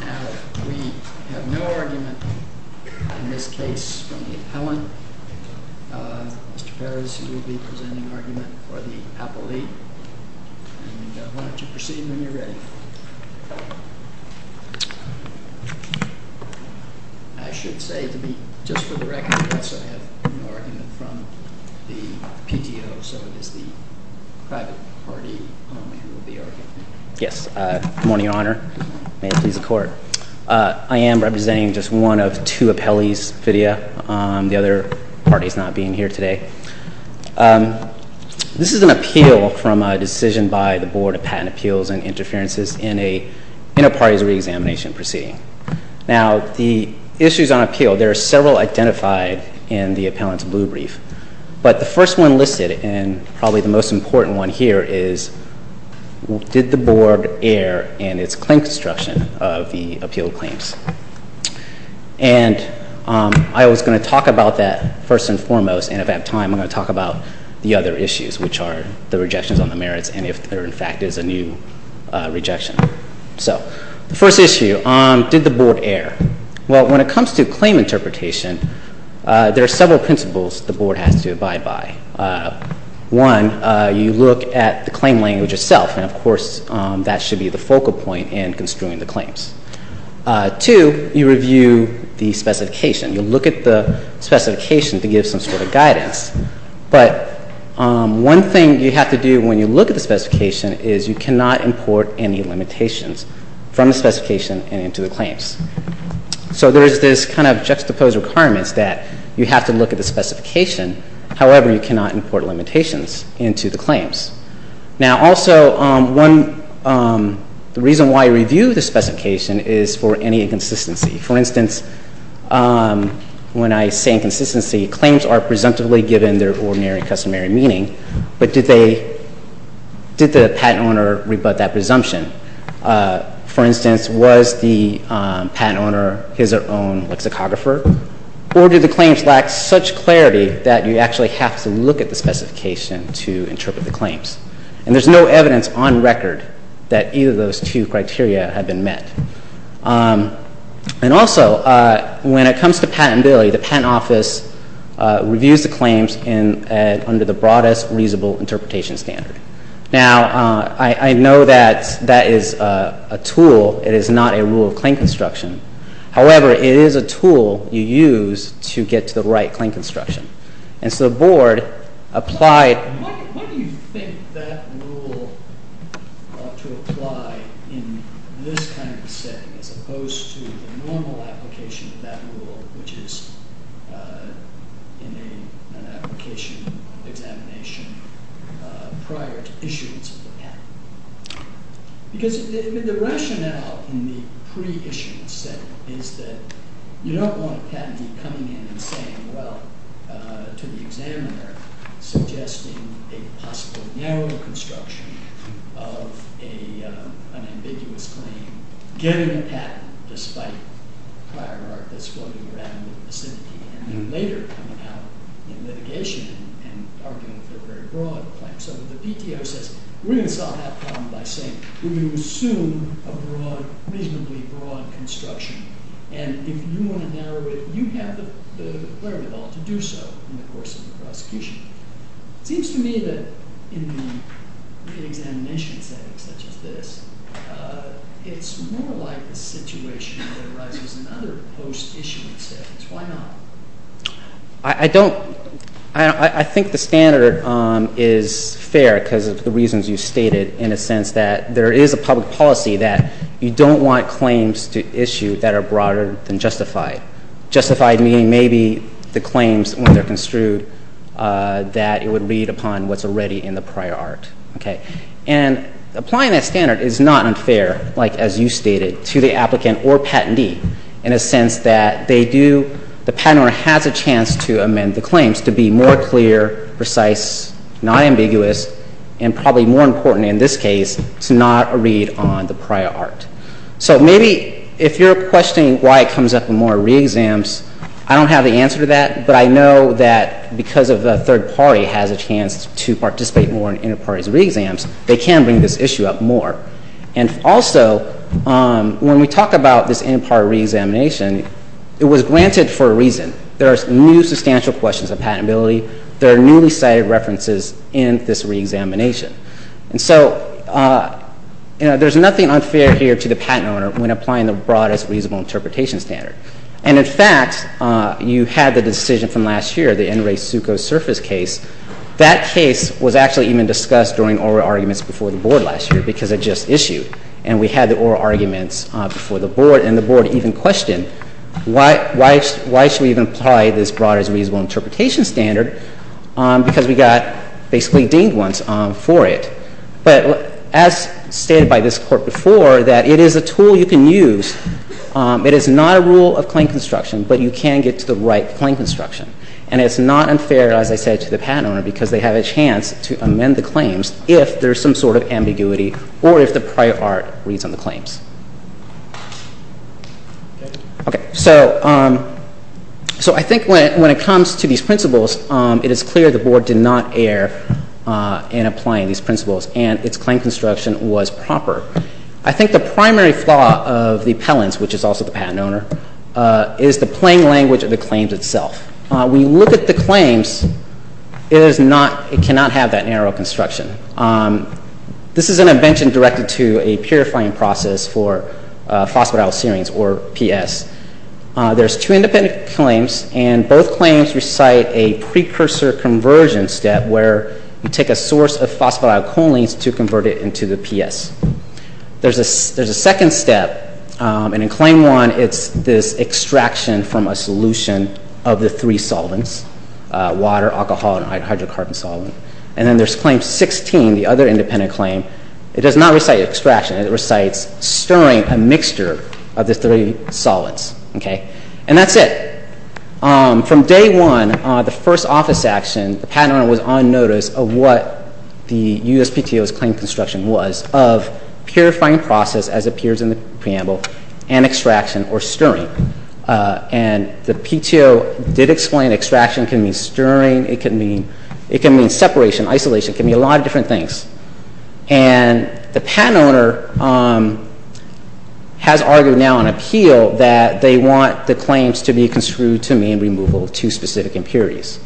Now, we have no argument in this case from the appellant, Mr. Ferris, who will be presenting an argument for the PAPL lead. And why don't you proceed when you're ready. I should say, just for the record, we also have no argument from the PTO, so it is the private party who will be arguing. MR. FERRIS Yes. Good morning, Your Honor. May it please the Court. I am representing just one of two appellees, Vidya. The other party is not being here today. This is an appeal from a decision by the Board of Patent Appeals and Interferences in a parties' reexamination proceeding. Now the issues on appeal, there are several identified in the appellant's blue brief, but the first one listed, and probably the most important one here, is did the Board err in its claim construction of the appeal claims. And I was going to talk about that first and foremost, and if I have time, I'm going to talk about the other issues, which are the rejections on the merits and if there, in fact, is a new rejection. So the first issue, did the Board err? Well, when it comes to claim interpretation, there are several principles the Board has to abide by. One, you look at the claim language itself, and of course, that should be the focal point in construing the claims. Two, you review the specification. You look at the specification to give some sort of guidance. But one thing you have to do when you look at the specification is you cannot import any limitations from the specification and into the claims. So there is this kind of juxtaposed requirements that you have to look at the Now, also, the reason why you review the specification is for any inconsistency. For instance, when I say inconsistency, claims are presumptively given their ordinary customary meaning, but did the patent owner rebut that presumption? For instance, was the patent owner his own lexicographer? Or do the claims lack such clarity that you actually have to look at the And there's no evidence on record that either of those two criteria have been met. And also, when it comes to patentability, the Patent Office reviews the claims under the broadest reasonable interpretation standard. Now, I know that that is a tool. It is not a rule of claim construction. However, it is a tool you use to get to the right claim construction. And so the board applied What do you think that rule ought to apply in this kind of setting as opposed to the normal application of that rule, which is in an application examination prior to issuance of the patent? Because the rationale in the pre-issuance setting is that you don't want a patentee coming in and saying, well, to the examiner, suggesting a possible narrow construction of an ambiguous claim, getting a patent despite the hierarchy that's floating around in the vicinity, and then later coming out in litigation and arguing for a very broad claim. So the PTO says, we're going to solve that problem by saying, we're going to assume a reasonably broad construction. And if you want to narrow it, you have the clarity at all to do so in the course of the prosecution. It seems to me that in the examination setting such as this, it's more like a situation that arises in other post-issuance settings. Why not? I think the standard is fair because of the reasons you stated in a sense that there is a public policy that you don't want claims to issue that are broader than justified. Justified meaning maybe the claims, when they're construed, that it would read upon what's already in the prior art. And applying that standard is not unfair, like as you stated, to the applicant or patentee in a sense that they do, the patent owner has a chance to amend the claims to be more clear, precise, not ambiguous, and probably more important in this case to not read on the prior art. So maybe if you're questioning why it comes up in more re-exams, I don't have the answer to that, but I know that because of a third party has a chance to participate more in inter-parties re-exams, they can bring this issue up more. And also, when we talk about this inter-party re-examination, it was granted for a reason. There are new substantial questions of patentability. There are newly cited references in this re-examination. And so there's nothing unfair here to the patent owner when applying the broadest reasonable interpretation standard. And, in fact, you had the decision from last year, the NRA SUCO surface case. That case was actually even discussed during oral arguments before the Board last year because it just issued. And we had the oral arguments before the Board, and the Board even questioned why should we even apply this broadest reasonable interpretation standard because we got basically deemed ones for it. But as stated by this Court before, that it is a tool you can use. It is not a rule of claim construction, but you can get to the right claim construction. And it's not unfair, as I said, to the patent owner because they have a chance to amend the claims if there's some sort of ambiguity or if the prior art reads on the claims. Okay. So I think when it comes to these principles, it is clear the Board did not err in applying these principles, and its claim construction was proper. I think the primary flaw of the appellants, which is also the patent owner, is the plain language of the claims itself. When you look at the claims, it cannot have that narrow construction. This is an invention directed to a purifying process for phosphatidylserine, or PS. There's two independent claims, and both claims recite a precursor conversion step where you take a source of phosphatidylcholine to convert it into the PS. There's a second step, and in claim one, it's this extraction from a solution of the three solvents, water, alcohol, and hydrocarbon solvent. And then there's claim 16, the other independent claim. It does not recite extraction. It recites stirring a mixture of the three solvents. And that's it. From day one, the first office action, the patent owner was on notice of what the USPTO's claim construction was of purifying process, as appears in the preamble, and extraction, or stirring. And the PTO did explain extraction can mean stirring, it can mean separation, isolation, it can mean a lot of different things. And the patent owner has argued now on appeal that they want the claims to be construed to mean removal of two specific impurities.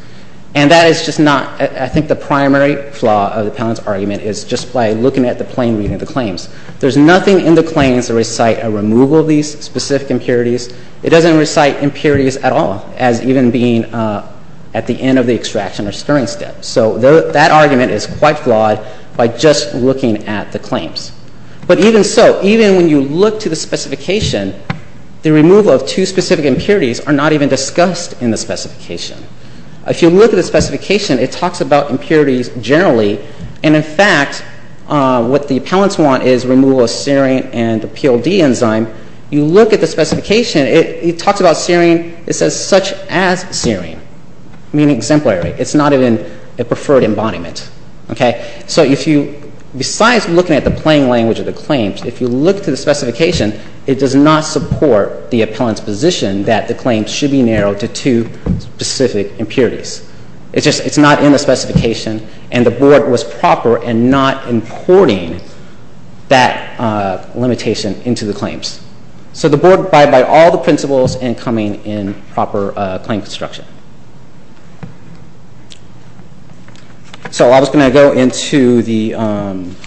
And that is just not, I think the primary flaw of the patent's argument is just by looking at the plain reading of the claims. There's nothing in the claims that recite a removal of these specific impurities. It doesn't recite impurities at all, as even being at the end of the extraction or stirring step. So that argument is quite flawed by just looking at the claims. But even so, even when you look to the specification, the removal of two specific impurities are not even discussed in the specification. If you look at the specification, it talks about impurities generally, and in fact, what the appellants want is removal of serine and the PLD enzyme. You look at the specification, it talks about serine, it says such as serine, meaning exemplary. It's not even a preferred embodiment. So if you, besides looking at the plain language of the claims, if you look to the specification, it does not support the appellant's position that the claims should be narrowed to two specific impurities. It's just, it's not in the specification, and the Board was proper in not importing that limitation into the claims. So the Board abide by all the principles in coming in proper claim construction. So I was going to go into the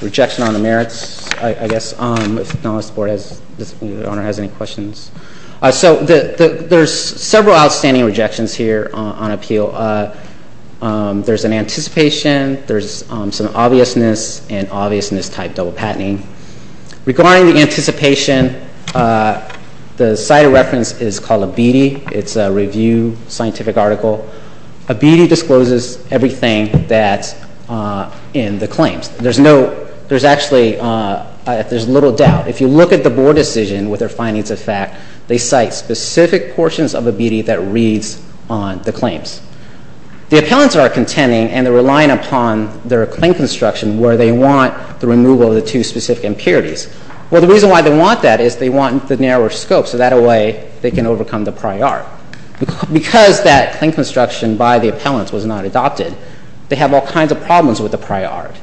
rejection on the merits, I guess, if the board has, if the owner has any questions. So there's several outstanding rejections here on appeal. There's an anticipation, there's some obviousness, and obviousness type double patenting. Regarding the anticipation, the site of reference is called ABEDE. It's a review scientific article. ABEDE discloses everything that's in the claims. There's no, there's actually, there's little doubt. If you look at the Board decision with their findings of fact, they cite specific portions of ABEDE that reads on the claims. The appellants are contending and they're relying upon their claim construction where they want the removal of the two specific impurities. Well, the reason why they want that is they want the narrower scope, so that way they can overcome the prior. Because that claim construction by the appellants was not adopted, they have all kinds of problems with the prior.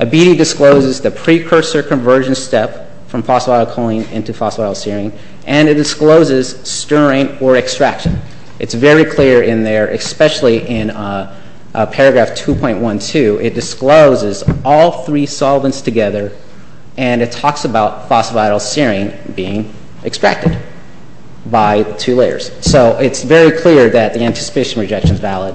ABEDE discloses the precursor conversion step from phosphorylcholine into phosphorylserine, and it discloses stirring or extraction. It's very clear in there, especially in paragraph 2.12, it discloses all three solvents together, and it talks about phosphorylserine being extracted by two layers. So it's very clear that the anticipation rejection is valid.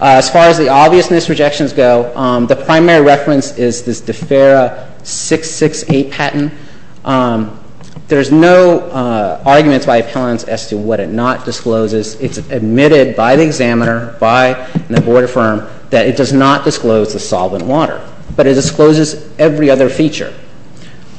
As far as the obviousness rejections go, the primary reference is this DEFERA 668 patent. There's no arguments by appellants as to what it not discloses. It's admitted by the examiner, by the board of firm, that it does not disclose the solvent water, but it discloses every other feature.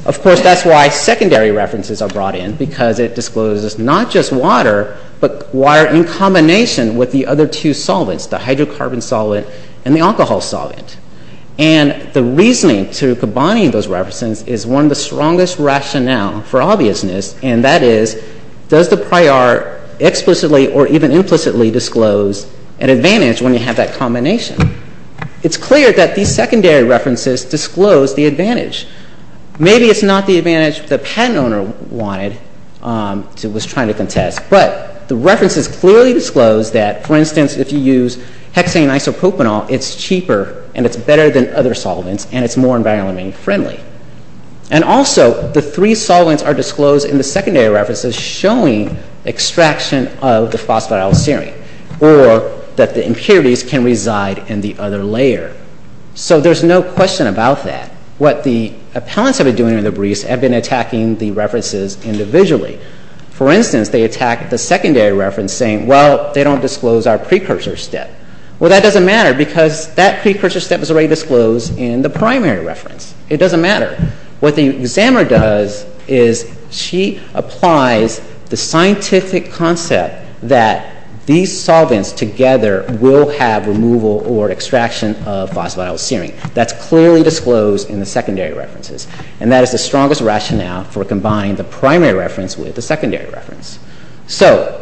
Of course, that's why secondary references are brought in, because it discloses not just water, but water in combination with the other two solvents, the hydrocarbon solvent and the alcohol solvent. And the reasoning to combining those references is one of the strongest rationale for obviousness, and that is, does the prior explicitly or even implicitly disclose an advantage when you have that combination? It's clear that these secondary references disclose the advantage. Maybe it's not the advantage the patent owner wanted, was trying to contest, but the references clearly disclose that, for instance, if you use hexane isopropanol, it's cheaper and it's better than other solvents, and it's more environmentally friendly. And also, the three solvents are disclosed in the secondary references showing extraction of the phosphatidylserine, or that the impurities can reside in the other layer. So there's no question about that. What the appellants have been doing in the briefs have been attacking the references individually. For instance, they attack the secondary reference saying, well, they don't disclose our precursor step. Well, that doesn't matter, because that precursor step was already disclosed in the primary reference. It doesn't matter. What the examiner does is she applies the scientific concept that these solvents together will have removal or extraction of phosphatidylserine. That's clearly disclosed in the secondary references, and that is the strongest rationale for combining the primary reference with the secondary reference. So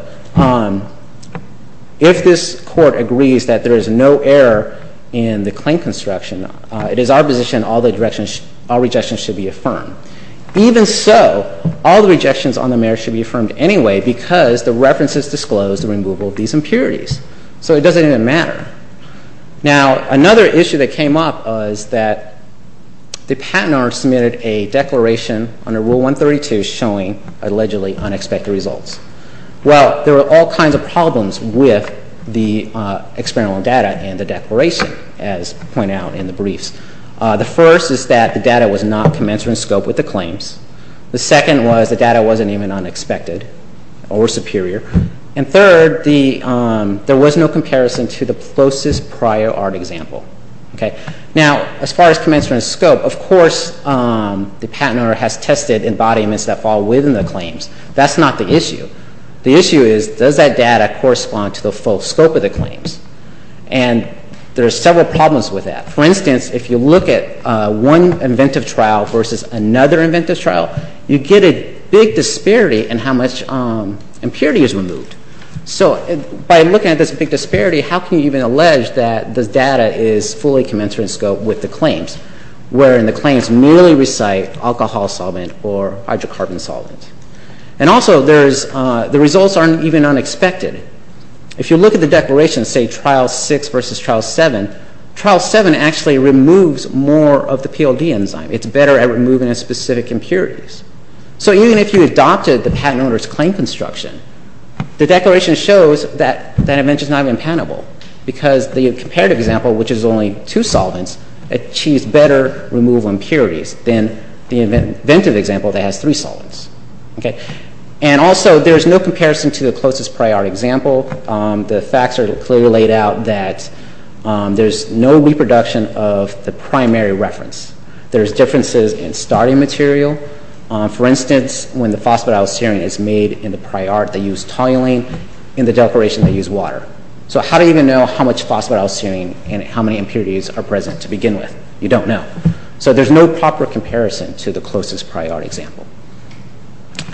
if this Court agrees that there is no error in the claim construction, it is our position all the rejections should be affirmed. Even so, all the rejections on the merits should be affirmed anyway, because the references disclose the removal of these impurities. So it doesn't even matter. Now, another issue that came up was that the Patent Office submitted a declaration under Rule 132 showing allegedly unexpected results. Well, there were all kinds of problems with the experimental data and the declaration, as pointed out in the briefs. The first is that the data was not commensurate in scope with the claims. The second was the data wasn't even unexpected or superior. And third, there was no comparison to the closest prior art example. Now, as far as commensurate in scope, of course the patent owner has tested embodiments that fall within the claims. That's not the issue. The issue is, does that data correspond to the full scope of the claims? And there are several problems with that. For instance, if you look at one inventive trial versus another inventive trial, you get a big disparity in how much impurity is removed. So by looking at this big disparity, how can you even allege that the data is fully commensurate in scope with the claims, wherein the claims merely recite alcohol solvent or hydrocarbon solvent? And also, the results aren't even unexpected. If you look at the declaration, say, Trial 6 versus Trial 7, Trial 7 actually removes more of the PLD enzyme. It's better at removing specific impurities. So even if you adopted the patent owner's claim construction, the declaration shows that that invention is not even patentable because the comparative example, which is only two solvents, achieves better removal impurities than the inventive example that has three solvents. And also, there's no comparison to the closest prior example. The facts are clearly laid out that there's no reproduction of the primary reference. There's differences in starting material. For instance, when the phosphatidylserine is made in the prior, they use toluene. In the declaration, they use water. So how do you even know how much phosphatidylserine and how many impurities are present to begin with? You don't know. So there's no proper comparison to the closest prior example.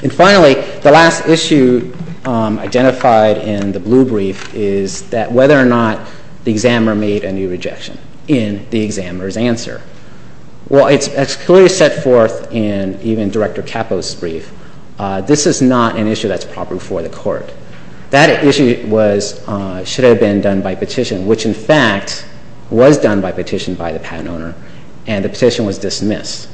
And finally, the last issue identified in the blue brief is that whether or not the examiner made a new rejection in the examiner's answer. Well, it's clearly set forth in even Director Capo's brief. This is not an issue that's proper for the court. That issue should have been done by petition, which in fact was done by petition by the patent owner, and the petition was dismissed.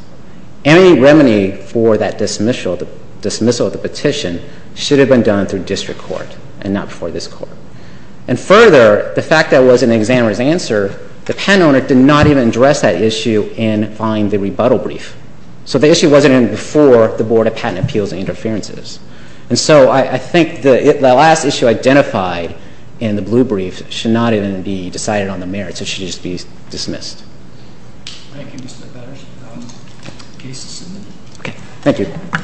Any remedy for that dismissal of the petition should have been done through district court and not before this court. And further, the fact that it was in the examiner's answer, the patent owner did not even address that issue in filing the rebuttal brief. So the issue wasn't even before the Board of Patent Appeals and Interferences. And so I think the last issue identified in the blue brief should not even be decided on the merits. It should just be dismissed. Thank you.